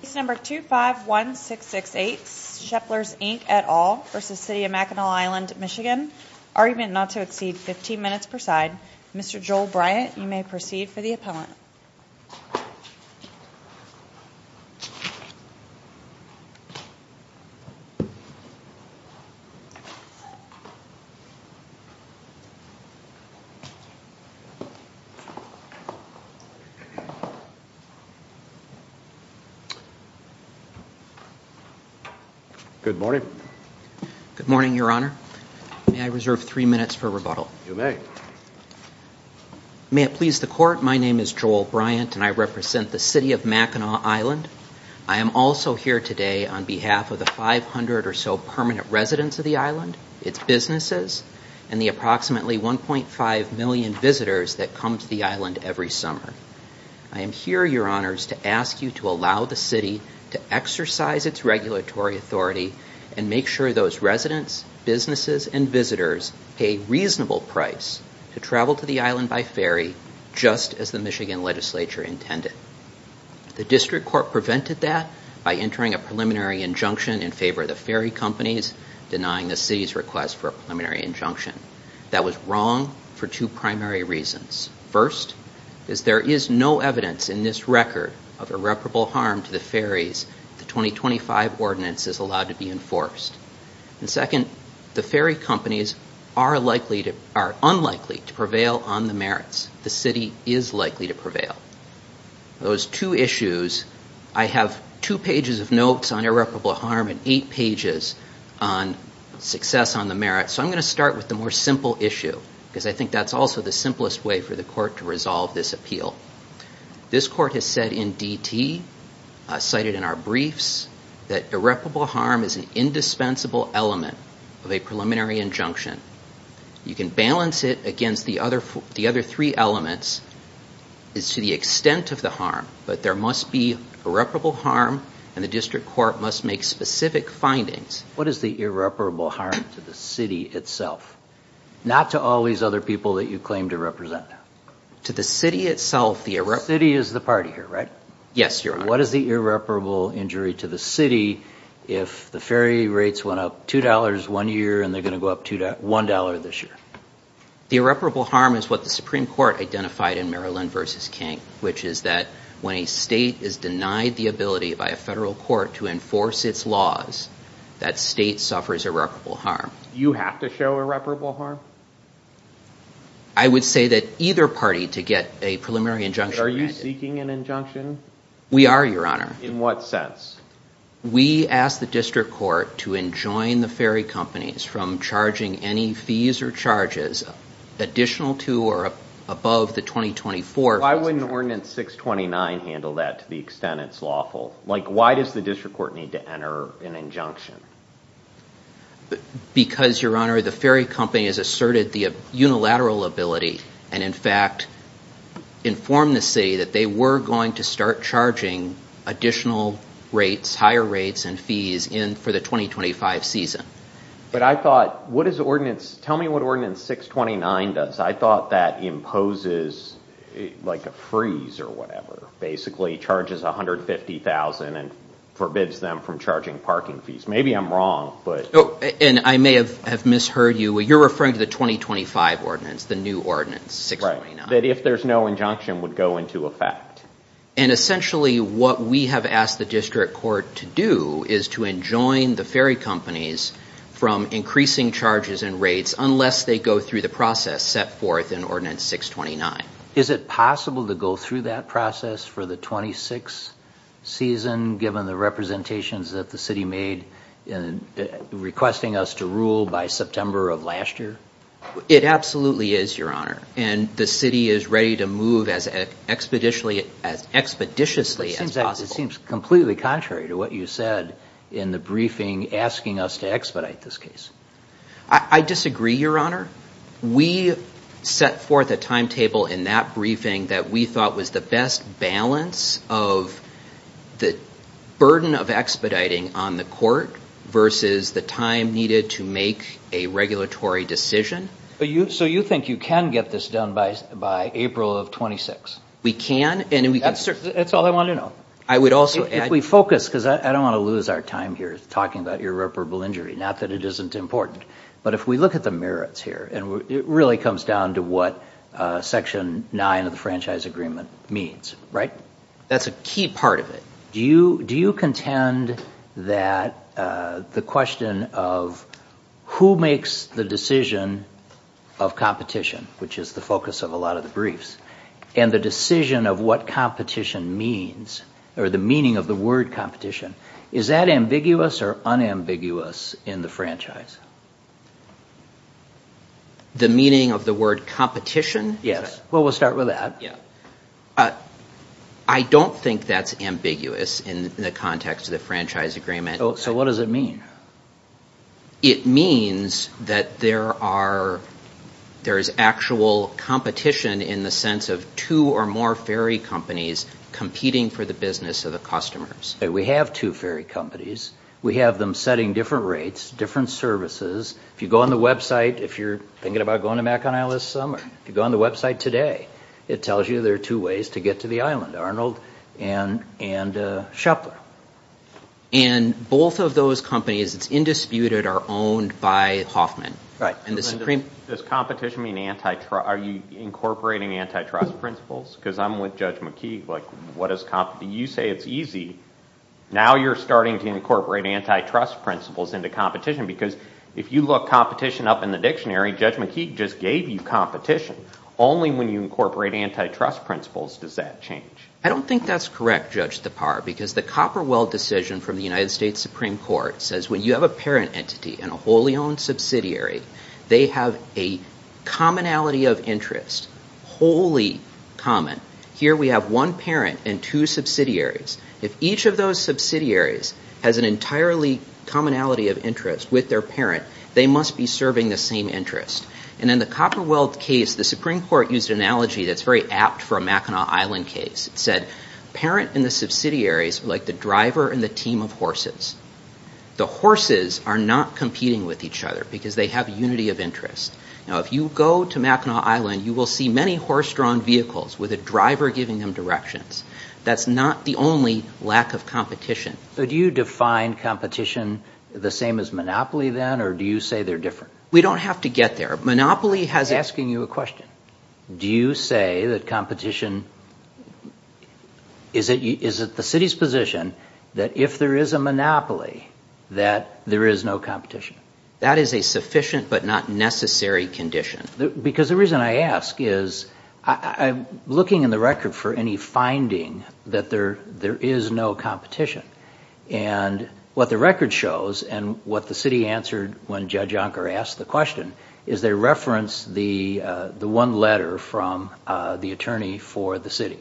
Case No. 251668 Sheplers Inc v. City of Mackinac Island MI Argument not to exceed 15 minutes per side Mr. Joel Bryant, you may proceed for the appellant Good morning Good morning, Your Honor. May I reserve three minutes for rebuttal? May it please the Court, my name is Joel Bryant and I represent the City of Mackinac Island I am also here today on behalf of the 500 or so permanent residents of the island, its businesses, and the approximately 1.5 million visitors that come to the island every summer I am here, Your Honor, to ask you to allow the City to exercise its regulatory authority and make sure those residents, businesses, and visitors pay reasonable price to travel to the island by ferry just as the Michigan Legislature intended The District Court prevented that by entering a preliminary injunction in favor of the ferry companies denying the City's request for a preliminary injunction That was wrong for two primary reasons First, there is no evidence in this record of irreparable harm to the ferries if the 2025 ordinance is allowed to be enforced Second, the ferry companies are unlikely to prevail on the merits. The City is likely to prevail Those two issues, I have two pages of notes on irreparable harm and eight pages on success on the merits So I'm going to start with the more simple issue because I think that's also the simplest way for the Court to resolve this appeal This Court has said in DT, cited in our briefs, that irreparable harm is an indispensable element of a preliminary injunction You can balance it against the other three elements to the extent of the harm, but there must be irreparable harm and the District Court must make specific findings What is the irreparable harm to the City itself? Not to all these other people that you claim to represent? To the City itself, the irreparable... The City is the party here, right? Yes, Your Honor What is the irreparable injury to the City if the ferry rates went up $2 one year and they're going to go up $1 this year? The irreparable harm is what the Supreme Court identified in Maryland v. King which is that when a state is denied the ability by a federal court to enforce its laws, that state suffers irreparable harm You have to show irreparable harm? I would say that either party to get a preliminary injunction granted Are you seeking an injunction? We are, Your Honor In what sense? We ask the District Court to enjoin the ferry companies from charging any fees or charges additional to or above the 2024... Why wouldn't Ordinance 629 handle that to the extent it's lawful? Like, why does the District Court need to enter an injunction? Because, Your Honor, the ferry company has asserted the unilateral ability and in fact informed the City that they were going to start charging additional rates, higher rates and fees for the 2025 season But I thought, what does Ordinance... tell me what Ordinance 629 does I thought that imposes like a freeze or whatever basically charges $150,000 and forbids them from charging parking fees Maybe I'm wrong, but... Oh, and I may have misheard you You're referring to the 2025 ordinance, the new Ordinance 629 Right, that if there's no injunction would go into effect And essentially what we have asked the District Court to do is to enjoin the ferry companies from increasing charges and rates unless they go through the process set forth in Ordinance 629 Is it possible to go through that process for the 26th season given the representations that the City made in requesting us to rule by September of last year? It absolutely is, Your Honor And the City is ready to move as expeditiously as possible It seems completely contrary to what you said in the briefing asking us to expedite this case I disagree, Your Honor We set forth a timetable in that briefing that we thought was the best balance of the burden of expediting on the Court versus the time needed to make a regulatory decision So you think you can get this done by April of 26? We can, and we... That's all I wanted to know I would also add... If we focus, because I don't want to lose our time here talking about irreparable injury not that it isn't important, but if we look at the merits here and it really comes down to what Section 9 of the Franchise Agreement means, right? That's a key part of it Do you contend that the question of who makes the decision of competition which is the focus of a lot of the briefs and the decision of what competition means or the meaning of the word competition Is that ambiguous or unambiguous in the franchise? The meaning of the word competition? Yes Well, we'll start with that I don't think that's ambiguous in the context of the Franchise Agreement So what does it mean? It means that there is actual competition in the sense of two or more ferry companies competing for the business of the customers We have two ferry companies We have them setting different rates, different services If you go on the website, if you're thinking about going to Macon Isles this summer If you go on the website today It tells you there are two ways to get to the island Arnold and Shepard And both of those companies, it's indisputed, are owned by Hoffman Right Does competition mean anti-trust? Are you incorporating anti-trust principles? Because I'm with Judge McKeague You say it's easy Now you're starting to incorporate anti-trust principles into competition Because if you look competition up in the dictionary Judge McKeague just gave you competition Only when you incorporate anti-trust principles does that change I don't think that's correct, Judge Thapar Because the Copperwell decision from the United States Supreme Court says when you have a parent entity and a wholly owned subsidiary they have a commonality of interest wholly common Here we have one parent and two subsidiaries If each of those subsidiaries has an entirely commonality of interest with their parent they must be serving the same interest And in the Copperwell case, the Supreme Court used an analogy that's very apt for a Mackinac Island case It said, parent and the subsidiaries are like the driver and the team of horses The horses are not competing with each other because they have unity of interest Now if you go to Mackinac Island you will see many horse-drawn vehicles with a driver giving them directions That's not the only lack of competition But do you define competition the same as monopoly then or do you say they're different? We don't have to get there Monopoly has I'm asking you a question Do you say that competition Is it the city's position that if there is a monopoly that there is no competition? That is a sufficient but not necessary condition Because the reason I ask is I'm looking in the record for any finding that there is no competition And what the record shows and what the city answered when Judge Unker asked the question is they referenced the one letter from the attorney for the city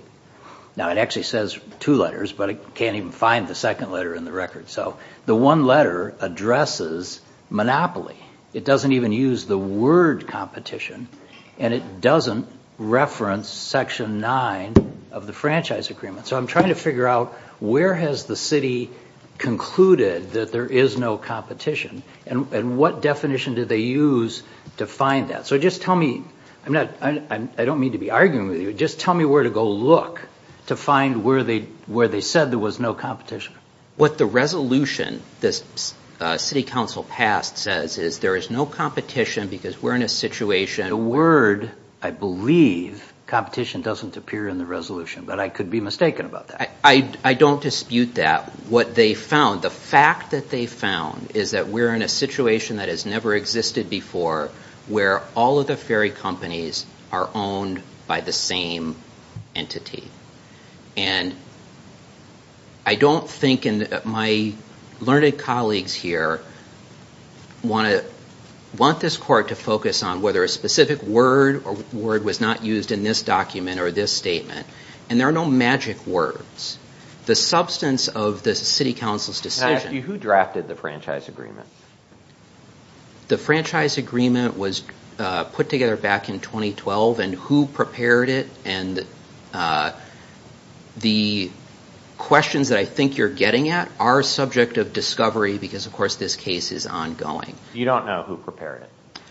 Now it actually says two letters but I can't even find the second letter in the record So the one letter addresses monopoly It doesn't even use the word competition and it doesn't reference Section 9 of the Franchise Agreement So I'm trying to figure out where has the city concluded that there is no competition and what definition did they use to find that So just tell me I don't mean to be arguing with you Just tell me where to go look to find where they said there was no competition What the resolution the City Council passed says is there is no competition because we're in a situation The word, I believe, competition doesn't appear in the resolution but I could be mistaken about that I don't dispute that What they found, the fact that they found is that we're in a situation that has never existed before where all of the ferry companies are owned by the same entity And I don't think, and my learned colleagues here want this court to focus on whether a specific word was not used in this document or this statement And there are no magic words The substance of the City Council's decision Can I ask you, who drafted the Franchise Agreement? The Franchise Agreement was put together back in 2012 And who prepared it? And the questions that I think you're getting at are subject of discovery because of course this case is ongoing You don't know who prepared it?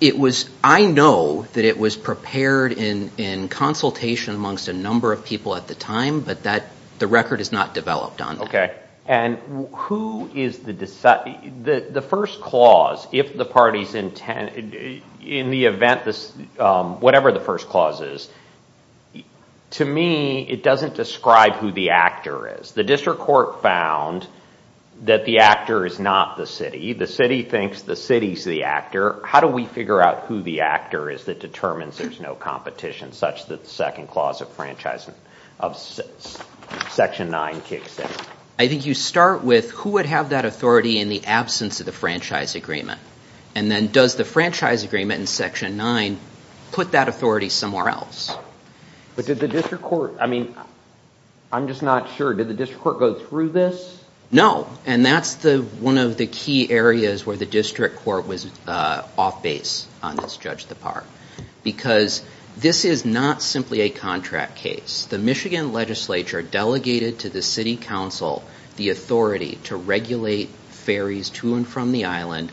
It was, I know that it was prepared in consultation amongst a number of people at the time but the record is not developed on that Okay, and who is the, the first clause if the parties intend, in the event, whatever the first clause is To me, it doesn't describe who the actor is The district court found that the actor is not the city The city thinks the city's the actor How do we figure out who the actor is that determines there's no competition such that the second clause of Franchise of Section 9 kicks in? I think you start with who would have that authority in the absence of the Franchise Agreement And then does the Franchise Agreement in Section 9 put that authority somewhere else? But did the district court, I mean I'm just not sure, did the district court go through this? No, and that's the, one of the key areas where the district court was off base on this Judge Depart Because this is not simply a contract case The Michigan Legislature delegated to the City Council the authority to regulate ferries to and from the island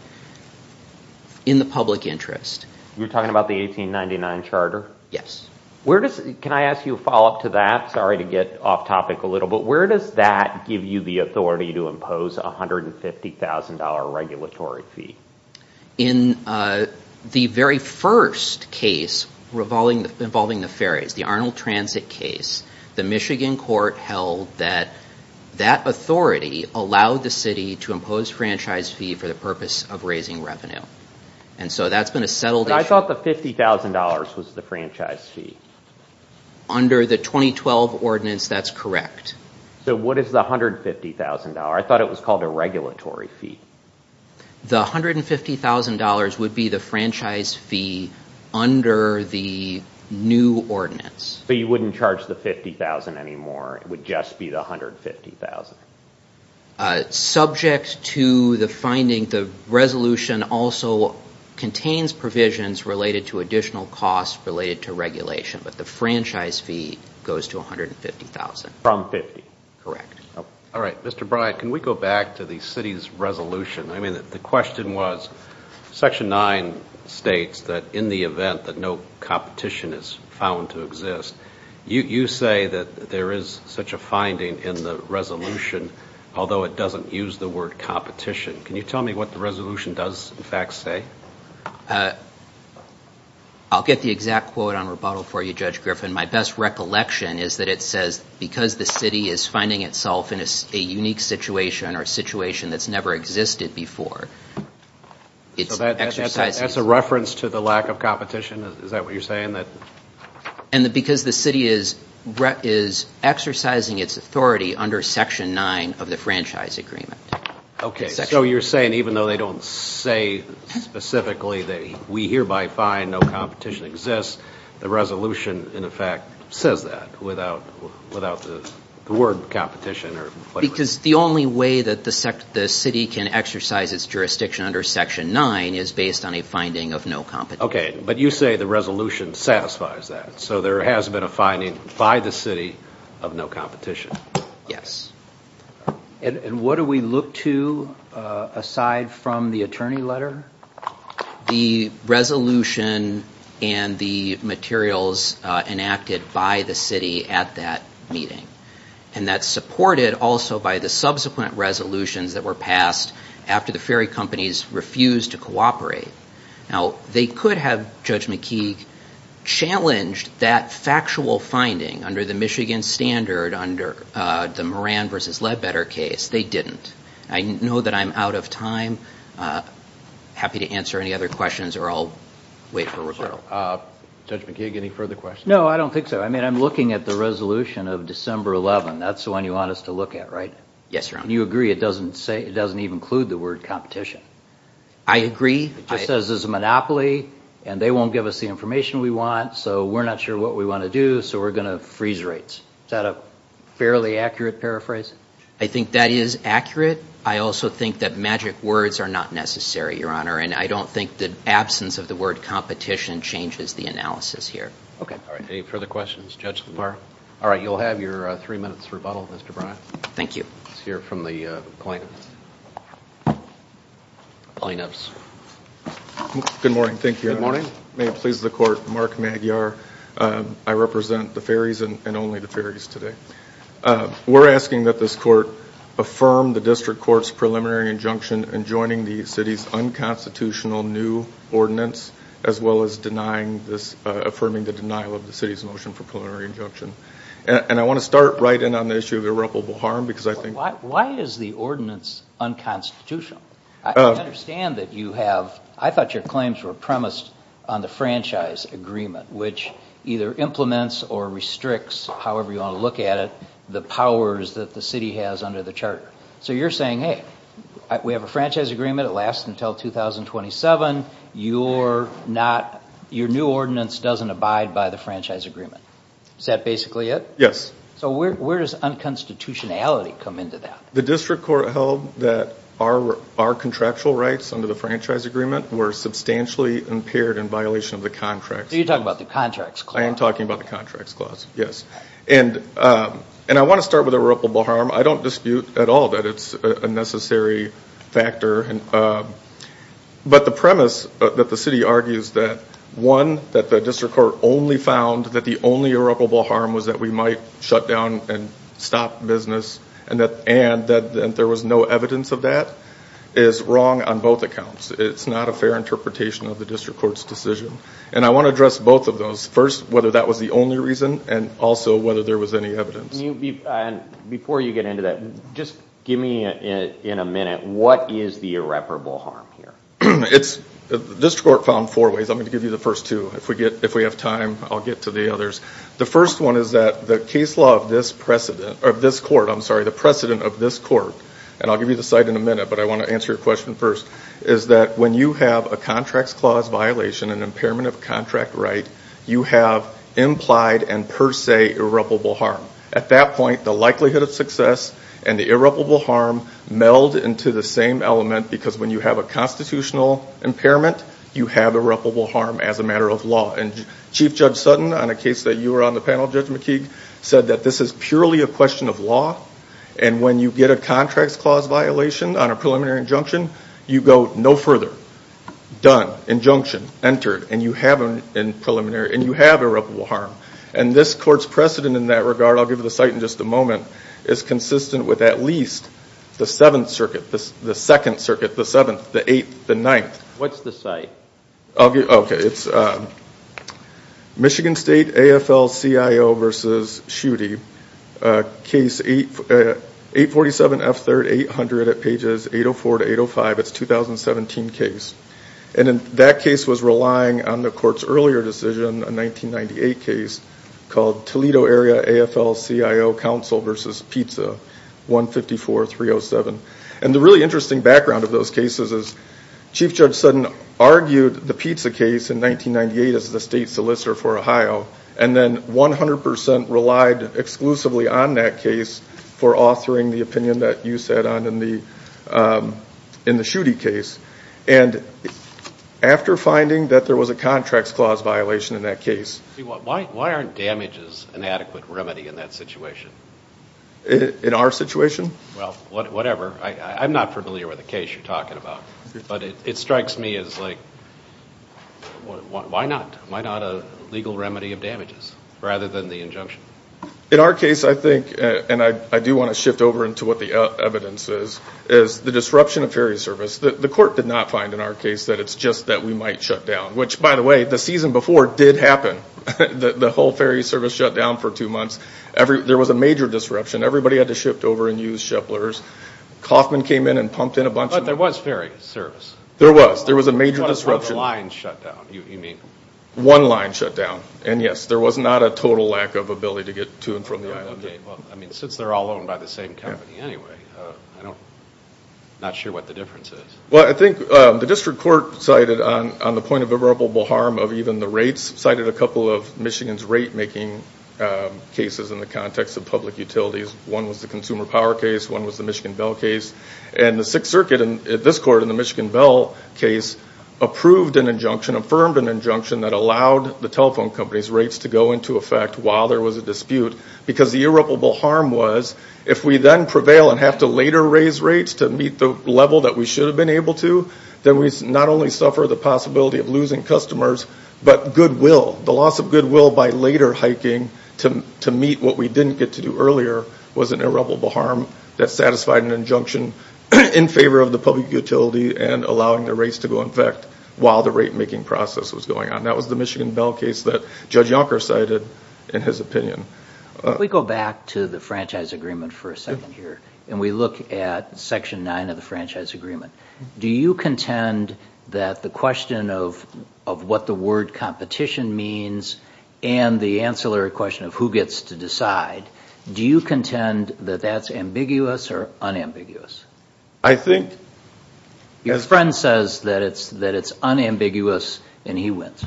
in the public interest You're talking about the 1899 Charter? Yes Where does, can I ask you a follow up to that? Sorry to get off topic a little But where does that give you the authority to impose a $150,000 regulatory fee? In the very first case involving the ferries The Arnold Transit case The Michigan court held that that authority allowed the city to impose franchise fee for the purpose of raising revenue And so that's been a settled issue But I thought the $50,000 was the franchise fee Under the 2012 ordinance, that's correct So what is the $150,000? I thought it was called a regulatory fee The $150,000 would be the franchise fee under the new ordinance So you wouldn't charge the $50,000 anymore It would just be the $150,000? Subject to the finding the resolution also contains provisions related to additional costs related to regulation But the franchise fee goes to $150,000 From $50,000? Correct Alright, Mr. Bryant Can we go back to the city's resolution? I mean, the question was Section 9 states that in the event that no competition is found to exist You say that there is such a finding in the resolution although it doesn't use the word competition Can you tell me what the resolution does, in fact, say? I'll get the exact quote on rebuttal for you, Judge Griffin My best recollection is that it says because the city is finding itself in a unique situation or a situation that's never existed before So that's a reference to the lack of competition? Is that what you're saying? And because the city is exercising its authority under Section 9 of the franchise agreement Okay, so you're saying even though they don't say specifically that we hereby find no competition exists the resolution, in effect, says that without the word competition Because the only way that the city can exercise its jurisdiction under Section 9 is based on a finding of no competition Okay, but you say the resolution satisfies that So there has been a finding by the city of no competition Yes And what do we look to aside from the attorney letter? The resolution and the materials enacted by the city at that meeting And that's supported also by the subsequent resolutions that were passed after the ferry companies refused to cooperate Now, they could have, Judge McKee challenged that factual finding under the Michigan standard under the Moran v. Ledbetter case They didn't I know that I'm out of time Happy to answer any other questions or I'll wait for rebuttal Judge McKee, any further questions? No, I don't think so I mean, I'm looking at the resolution of December 11 That's the one you want us to look at, right? Yes, Your Honor And you agree it doesn't even include the word competition? I agree It just says there's a monopoly And they won't give us the information we want So we're not sure what we want to do So we're going to freeze rates Is that a fairly accurate paraphrase? I think that is accurate I also think that magic words are not necessary, Your Honor And I don't think the absence of the word competition changes the analysis here Okay All right, any further questions? Judge Lamar? All right, you'll have your three minutes rebuttal, Mr. Bryant Thank you Let's hear from the plaintiffs Plaintiffs Good morning, thank you, Your Honor Good morning May it please the Court, Mark Magyar I represent the Ferries and only the Ferries today We're asking that this Court affirm the District Court's preliminary injunction in joining the city's unconstitutional new ordinance as well as affirming the denial of the city's motion for preliminary injunction And I want to start right in on the issue of irreparable harm Why is the ordinance unconstitutional? I understand that you have I thought your claims were premised on the franchise agreement which either implements or restricts, however you want to look at it the powers that the city has under the Charter So you're saying, hey, we have a franchise agreement It lasts until 2027 Your new ordinance doesn't abide by the franchise agreement Is that basically it? Yes So where does unconstitutionality come into that? The District Court held that our contractual rights under the franchise agreement were substantially impaired in violation of the Contracts Clause So you're talking about the Contracts Clause I am talking about the Contracts Clause, yes And I want to start with irreparable harm I don't dispute at all that it's a necessary factor But the premise that the city argues that One, that the District Court only found that the only irreparable harm was that we might shut down and stop business and that there was no evidence of that is wrong on both accounts It's not a fair interpretation of the District Court's decision And I want to address both of those First, whether that was the only reason and also whether there was any evidence Before you get into that, just give me in a minute what is the irreparable harm here? The District Court found four ways I'm going to give you the first two If we have time, I'll get to the others The first one is that the case law of this court I'm sorry, the precedent of this court and I'll give you the cite in a minute but I want to answer your question first is that when you have a Contracts Clause violation an impairment of contract right you have implied and per se irreparable harm At that point, the likelihood of success and the irreparable harm meld into the same element because when you have a constitutional impairment you have irreparable harm as a matter of law And Chief Judge Sutton, on a case that you were on the panel Judge McKeague said that this is purely a question of law and when you get a Contracts Clause violation on a preliminary injunction you go no further done, injunction, entered and you have irreparable harm And this court's precedent in that regard I'll give you the cite in just a moment is consistent with at least the 7th Circuit the 2nd Circuit, the 7th, the 8th, the 9th What's the cite? Okay, it's Michigan State AFL-CIO v. Schutte Case 847F3-800 at pages 804-805 It's a 2017 case And that case was relying on the court's earlier decision a 1998 case called Toledo Area AFL-CIO Council v. Pizza 154-307 And the really interesting background of those cases is Chief Judge Sutton argued the Pizza case in 1998 as the state solicitor for Ohio and then 100% relied exclusively on that case for authoring the opinion that you sat on in the in the Schutte case And after finding that there was a Contracts Clause violation in that case Why aren't damages an adequate remedy in that situation? In our situation? Well, whatever I'm not familiar with the case you're talking about But it strikes me as like Why not? Why not a legal remedy of damages rather than the injunction? In our case I think and I do want to shift over into what the evidence is is the disruption of ferry service The court did not find in our case that it's just that we might shut down Which, by the way, the season before did happen The whole ferry service shut down for two months There was a major disruption Everybody had to shift over and use shiplers Kauffman came in and pumped in a bunch of But there was ferry service There was There was a major disruption You're talking about a one-line shutdown, you mean? One-line shutdown And yes, there was not a total lack of ability to get to and from the island Well, I mean, since they're all owned by the same company anyway I'm not sure what the difference is Well, I think the district court cited on the point of irreparable harm of even the rates cited a couple of Michigan's rate-making cases in the context of public utilities One was the Consumer Power case One was the Michigan Bell case And the Sixth Circuit in this court in the Michigan Bell case approved an injunction affirmed an injunction that allowed the telephone company's rates to go into effect while there was a dispute because the irreparable harm was if we then prevail and have to later raise rates to meet the level that we should have been able to then we not only suffer the possibility of losing customers but goodwill The loss of goodwill by later hiking to meet what we didn't get to do earlier was an irreparable harm that satisfied an injunction in favor of the public utility and allowing the rates to go into effect while the rate-making process was going on That was the Michigan Bell case that Judge Yonker cited in his opinion If we go back to the franchise agreement for a second here and we look at Section 9 of the franchise agreement do you contend that the question of what the word competition means and the ancillary question of who gets to decide do you contend that that's ambiguous or unambiguous? I think Your friend says that it's unambiguous and he wins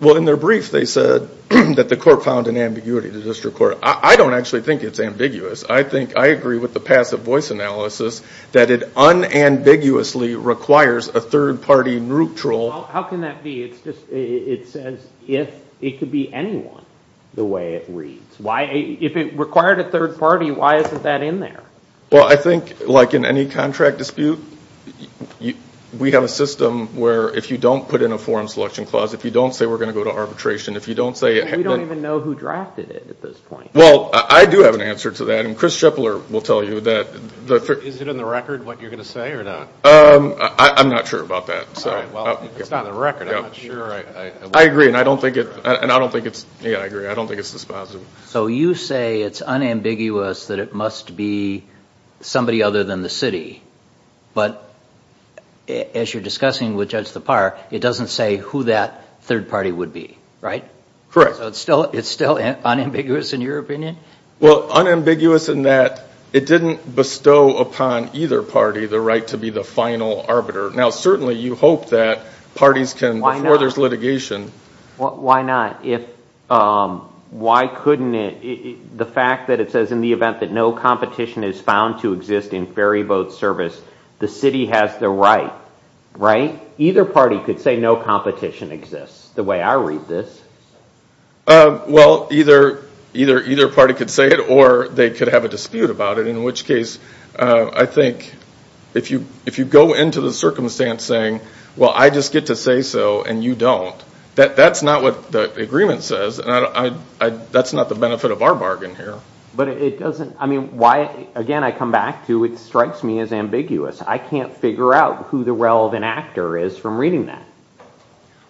Well in their brief they said that the court found an ambiguity to district court I don't actually think it's ambiguous I think I agree with the passive voice analysis that it unambiguously requires a third-party neutral How can that be? It's just It says if it could be anyone the way it reads If it required a third party why isn't that in there? Well I think like in any contract dispute we have a system where if you don't put in a forum selection clause if you don't say we're going to go to arbitration if you don't say We don't even know who drafted it at this point Well I do have an answer to that and Chris Schepler will tell you that Is it in the record what you're going to say or not? I'm not sure about that It's not in the record I'm not sure I agree and I don't think it's Yeah I agree I don't think it's this positive So you say it's unambiguous that it must be somebody other than the city but as you're discussing with Judge Thapar it doesn't say who that third party would be Right? Correct So it's still unambiguous in your opinion? Well unambiguous in that it didn't bestow upon either party the right to be the final arbiter Now certainly you hope that parties can Why not? Before there's litigation Why not? If Why couldn't it The fact that it says in the event that no competition is found to exist in ferry boat service the city has the right Right? Either party could say no competition exists the way I read this Well either either party could say it or they could have a dispute about it in which case I think if you if you go into the circumstance saying well I just get to say so and you don't that's not what the agreement says and I that's not the benefit of our bargain here But it doesn't I mean why again I come back to it strikes me as ambiguous I can't figure out who the relevant actor is from reading that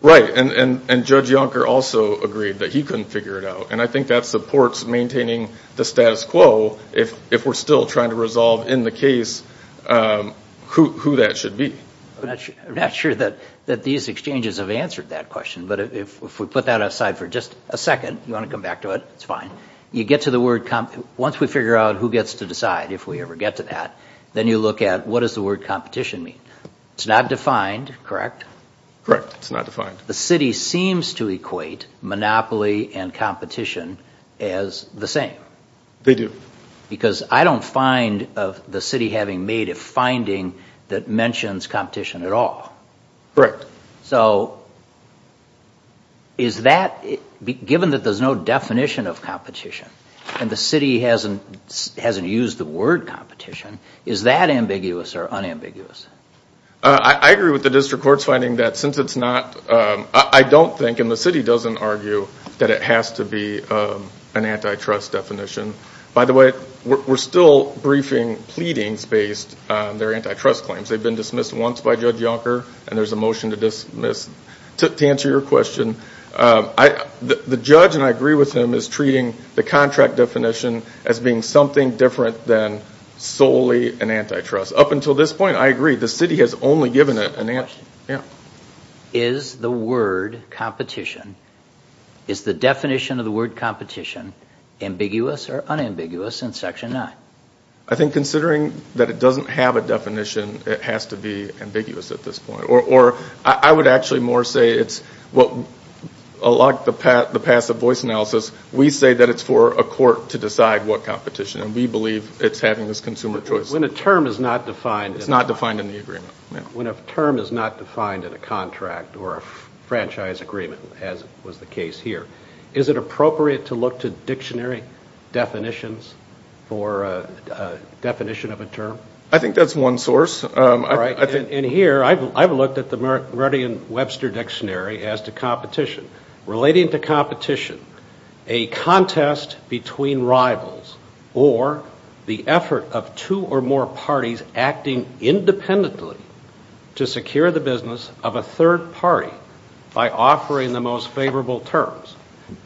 Right and Judge Yonker also agreed that he couldn't figure it out and I think that supports maintaining the status quo if we're still trying to resolve in the case who that should be I'm not sure that that these exchanges have answered that question but if we put that aside for just a second you want to come back to it it's fine you get to the word once we figure out who gets to decide if we ever get to that then you look at what does the word competition mean it's not defined correct it's not defined the city seems to equate monopoly and competition as the same they do because I don't find of the city having made a finding that mentions competition at all correct so is that given that there's no definition of competition and the city hasn't hasn't used the word competition is that ambiguous or unambiguous I agree with the district court's finding that since it's not I don't think and the city doesn't argue that it has to be an antitrust definition by the way we're still briefing pleadings based on their antitrust claims they've been dismissed once by Judge Yonker and there's a motion to dismiss to answer your question the judge and I agree with him is treating the contract definition as being something different than solely an antitrust up until this point I agree the city has only given it is the word competition is the definition of the word competition ambiguous or unambiguous in section 9 I think considering that it doesn't have a definition it has to be ambiguous at this point or I would actually more say it's what a lot of the passive voice analysis we say that it's for a court to decide what competition and we believe it's having this consumer choice when a term is not defined it's not defined in the agreement when a term is not defined in a contract or a franchise agreement as was the case here is it appropriate to look to dictionary definitions for a definition of a term I think that's one source and here I've looked at the Meridian Webster dictionary as to competition relating to competition a contest between rivals or the effort of two or more parties acting independently to secure the business of a third party by offering the most favorable terms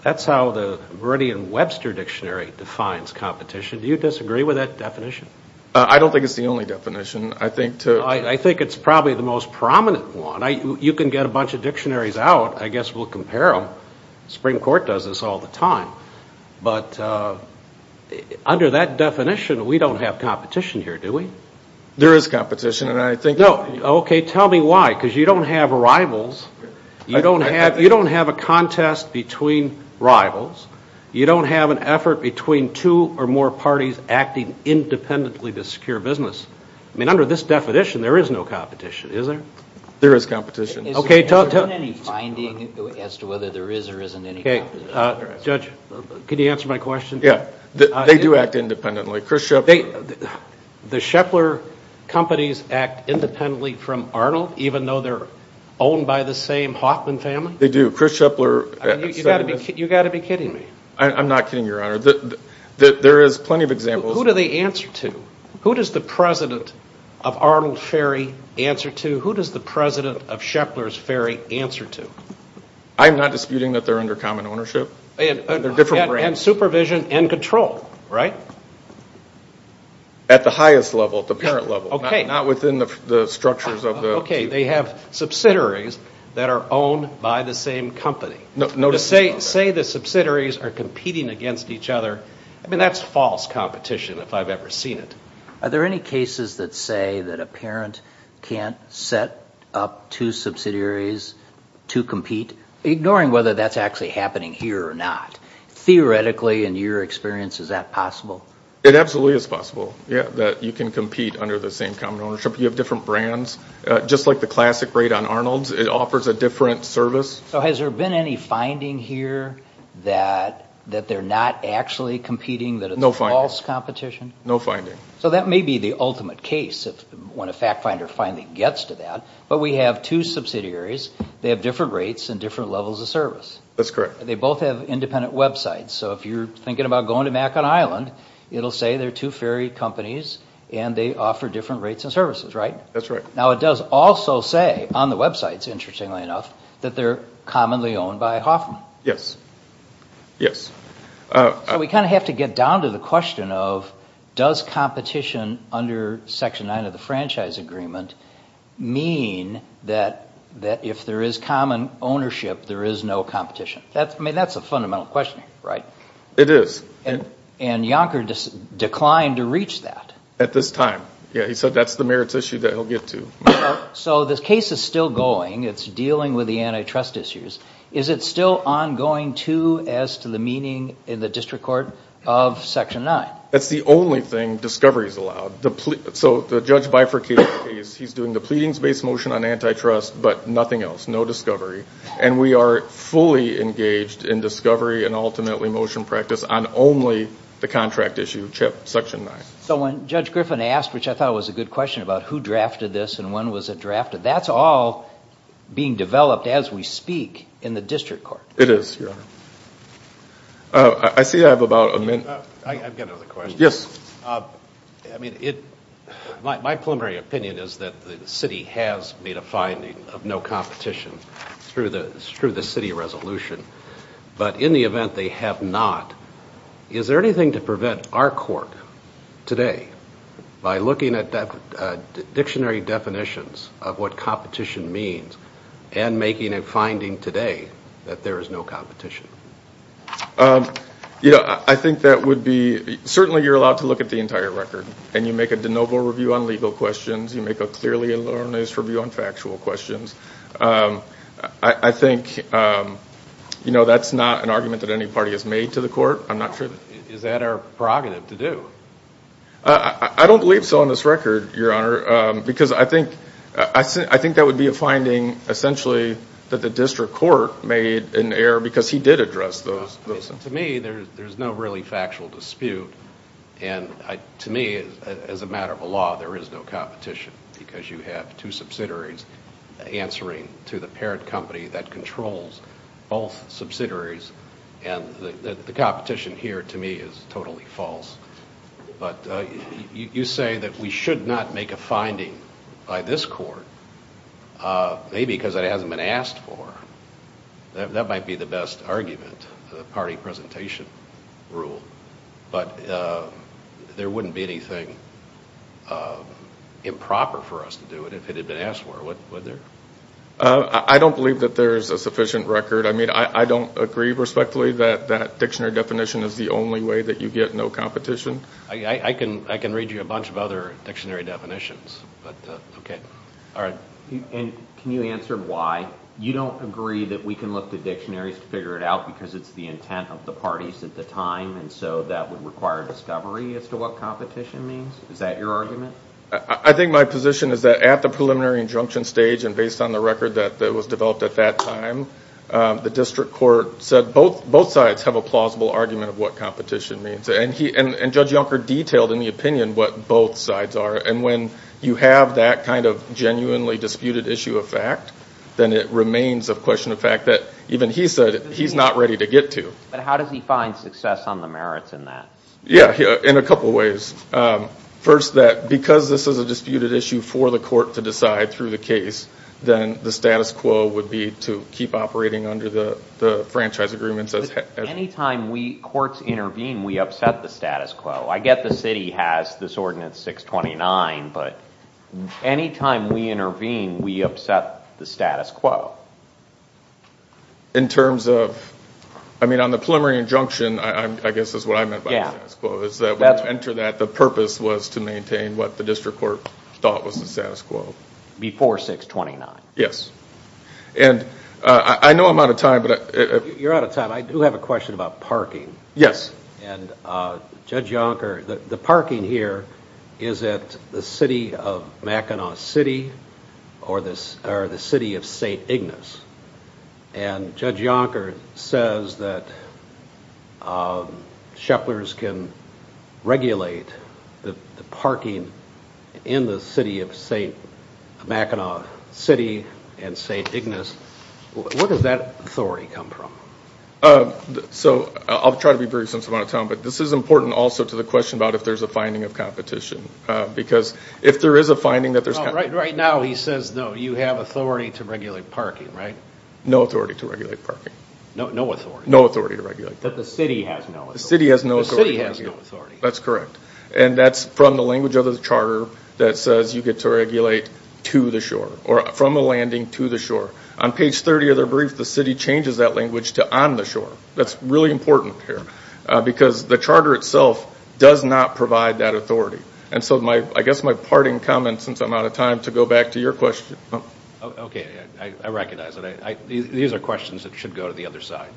that's how the Meridian Webster dictionary defines competition do you disagree with that definition? I don't think it's the only definition I think it's probably the most prominent one you can get a bunch of dictionaries out I guess we'll compare them the Supreme Court does this all the time but under that definition we don't have competition here do we? there is competition and I think okay tell me why because you don't have rivals you don't have a contest between rivals you don't have an effort between two or more parties acting independently to secure business I mean under this definition there is no competition is there? there is competition is there any finding as to whether there is or isn't any competition? judge can you answer my question? they do act independently Chris Schepler the Schepler companies act independently from Arnold even though they're owned by the same Hoffman family? they do Chris Schepler you've got to be kidding me I'm not kidding your honor there is plenty of examples who do they answer to? who does the president of Arnold Ferry answer to? who does the president of Schepler's Ferry answer to? I'm not disputing that they're under common ownership and supervision and control right? at the highest level at the parent level not within the structures of the okay they have subsidiaries that are owned by the same company say the subsidiaries are competing against each other I mean that's false competition if I've ever seen it are there any cases that say that a parent can't set up two subsidiaries to compete? ignoring whether that's actually happening here or not theoretically in your experience is that possible? it absolutely is possible yeah that you can compete under the same common ownership you have different brands just like the classic rate on Arnold's it offers a different service so has there been any finding here that that they're not actually competing that it's false competition? no finding so that may be the ultimate case when a fact finder finally gets to that but we have two subsidiaries they have different rates and different levels of service that's correct they both have independent websites so if you're thinking about going to Macon Island it'll say they're two ferry companies and they offer different rates and services right? that's right now it does also say on the websites interestingly enough that they're commonly owned by Hoffman yes yes so we kind of have to get down to the question of does competition under section 9 of the franchise agreement mean that that if there is common ownership there is no competition that's I mean that's a fundamental question right? it is and Yonker just declined to reach that at this time yeah he said that's the merits issue that he'll get to so this case is still going it's dealing with the antitrust issues is it still ongoing too as to the meaning in the district court of section 9? that's the only thing discovery is allowed so the judge bifurcated the case he's doing the pleadings based motion on antitrust but nothing else no discovery and we are fully engaged in discovery and ultimately motion practice on only the contract issue section 9 so when judge Griffin asked which I thought was a good question about who drafted this and when was it drafted that's all being developed as we speak in the district court it is I see I have about a minute I've got another question yes I mean it my preliminary opinion is that the city has made a finding of no competition through the through the city resolution but in the event they have not is there anything to prevent our court today by looking at dictionary definitions of what competition means and making a finding today that there is no competition you know I think that would be certainly you're allowed to look at the entire record and you make clear factual questions I think you know that's not an argument that any party has made to the court I'm not sure is that our prerogative to do I don't believe so on this record your honor because I think I think that would be a finding essentially that the district court made an error because he did address those to me there's no really factual dispute and to me as a matter of a law there is no competition because you have two subsidiaries answering to the parent company that controls both subsidiaries and the competition here to me is totally false but you say that we should not make a finding by this court maybe because it hasn't been asked for that might be the best argument the party presentation rule but there wouldn't be anything improper for us to do it if it had been asked for I don't believe that there is a sufficient record I don't agree respectfully that dictionary definition is the only way that you get no competition I can read you a bunch of other definitions can you answer why you don't agree that we can look at dictionaries to figure it out because it's the intent of the parties at the time so that both sides have a plausible argument and judge detailed in the opinion what both sides are and when you have that kind of genuinely disputed issue of fact then it remains a question of fact that even he said he's not ready to get to but how does he find success on the merits in that yeah in a couple ways first that because this is a disputed issue for the court to decide through the case then the status quo would be to keep operating under the franchise agreement any time courts intervene we upset the status quo I get that the purpose was to maintain what the district court thought was the status quo before 629 yes and I know I'm out of time but you're out of time I do have a question about parking yes and judge Yonker the parking here is at the city of Mackinac City or the city of St. Ignace and judge Yonker settlers can regulate the parking in the city of St. Mackinac City and St. Ignace what does that authority come from I'll try to be very simple this is important to the question if there is a finding of competition right now he says you have authority to regulate parking no authority to regulate parking no authority the city has no authority that's correct and that's from the language of the charter that says you get to regulate to the shore on page 30 of the brief the city changes that language to I guess my parting comment since I'm out of time to go back to your question these are questions that should go to the other side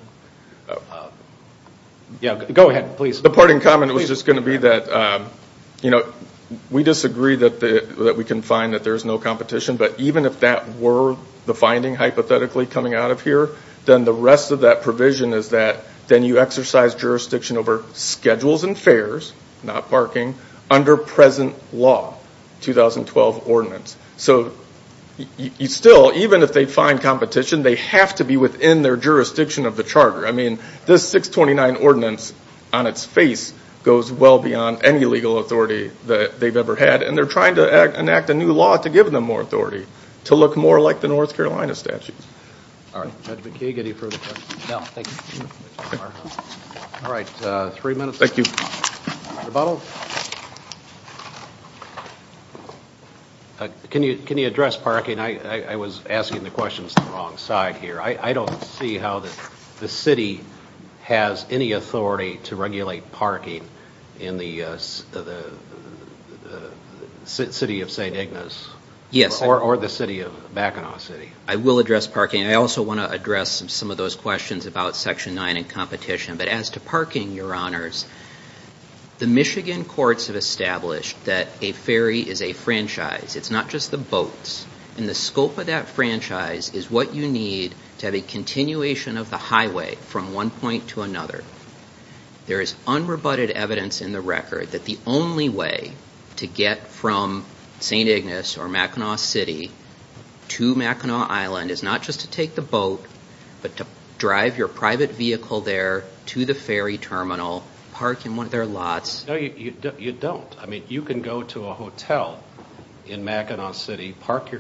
go ahead the parting comment was just going to be that we disagree that we can find that there is no competition but even if that were the hypothetically coming out of here then the rest of that provision is that then you exercise jurisdiction over schedules and fares not parking under present law 2012 ordinance so you still even if they find competition they have to be within their jurisdiction of the this 629 ordinance on its face goes well beyond any legal authority and they are trying to enact a new law to give them more authority to look more like the North Carolina statute all right three minutes thank you can you address parking I was asking the city has any authority to regulate parking in the city of St. Ignace yes or or the city of back in our city I will address parking I also want to address some of those questions about section 9 and competition but as to your honors the Michigan courts have that a ferry is a franchise it's not just the boats and the scope of that franchise is what you need to have a continuation of the highway from one point to another there is unrebutted evidence in the record that the only way to get from St. Ignace or Mackinac City to Mackinac Island is not just to take the boat but to drive your private vehicle there to the ferry terminal parking one of their lots you don't you can go to a hotel in Mackinac City then I would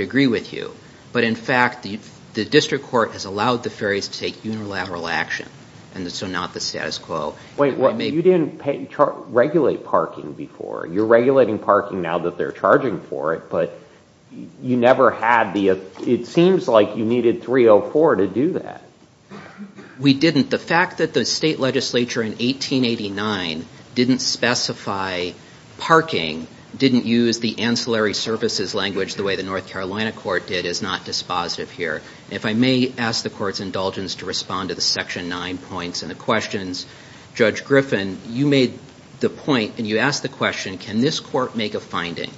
agree with you but in fact the district court has allowed the ferries to take unilateral action so not the status quo you didn't regulate parking before you're parking now that they're charging for it but you never had the it seems like you needed 304 to do that we didn't the fact that the state legislature in 1889 didn't specify parking didn't use the services language the way the North Carolina court did is not dispositive here if I may ask the court's to respond to the section 9 points and the questions judge Griffin you made the point and you asked the question can this court make a finding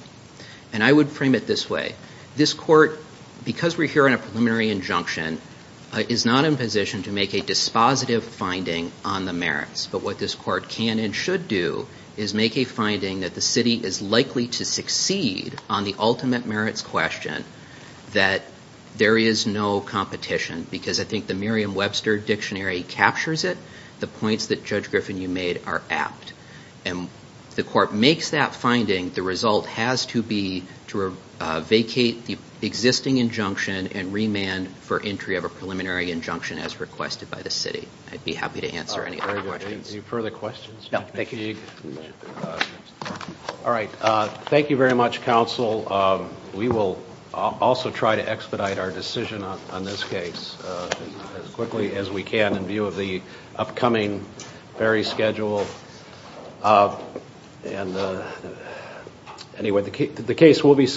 and I would frame it this way this court because we're here in a preliminary injunction is not in position to make a dispositive finding on the merits but what this court can and should do is make a finding that the city is likely to succeed on the ultimate merits question that there is preliminary injunction as requested by the city. I'd be happy to answer any other questions. Thank you very much counsel. We will also try to expedite our decision on this case as quickly as we can in view of the upcoming very schedule and anyway the case will be submitted.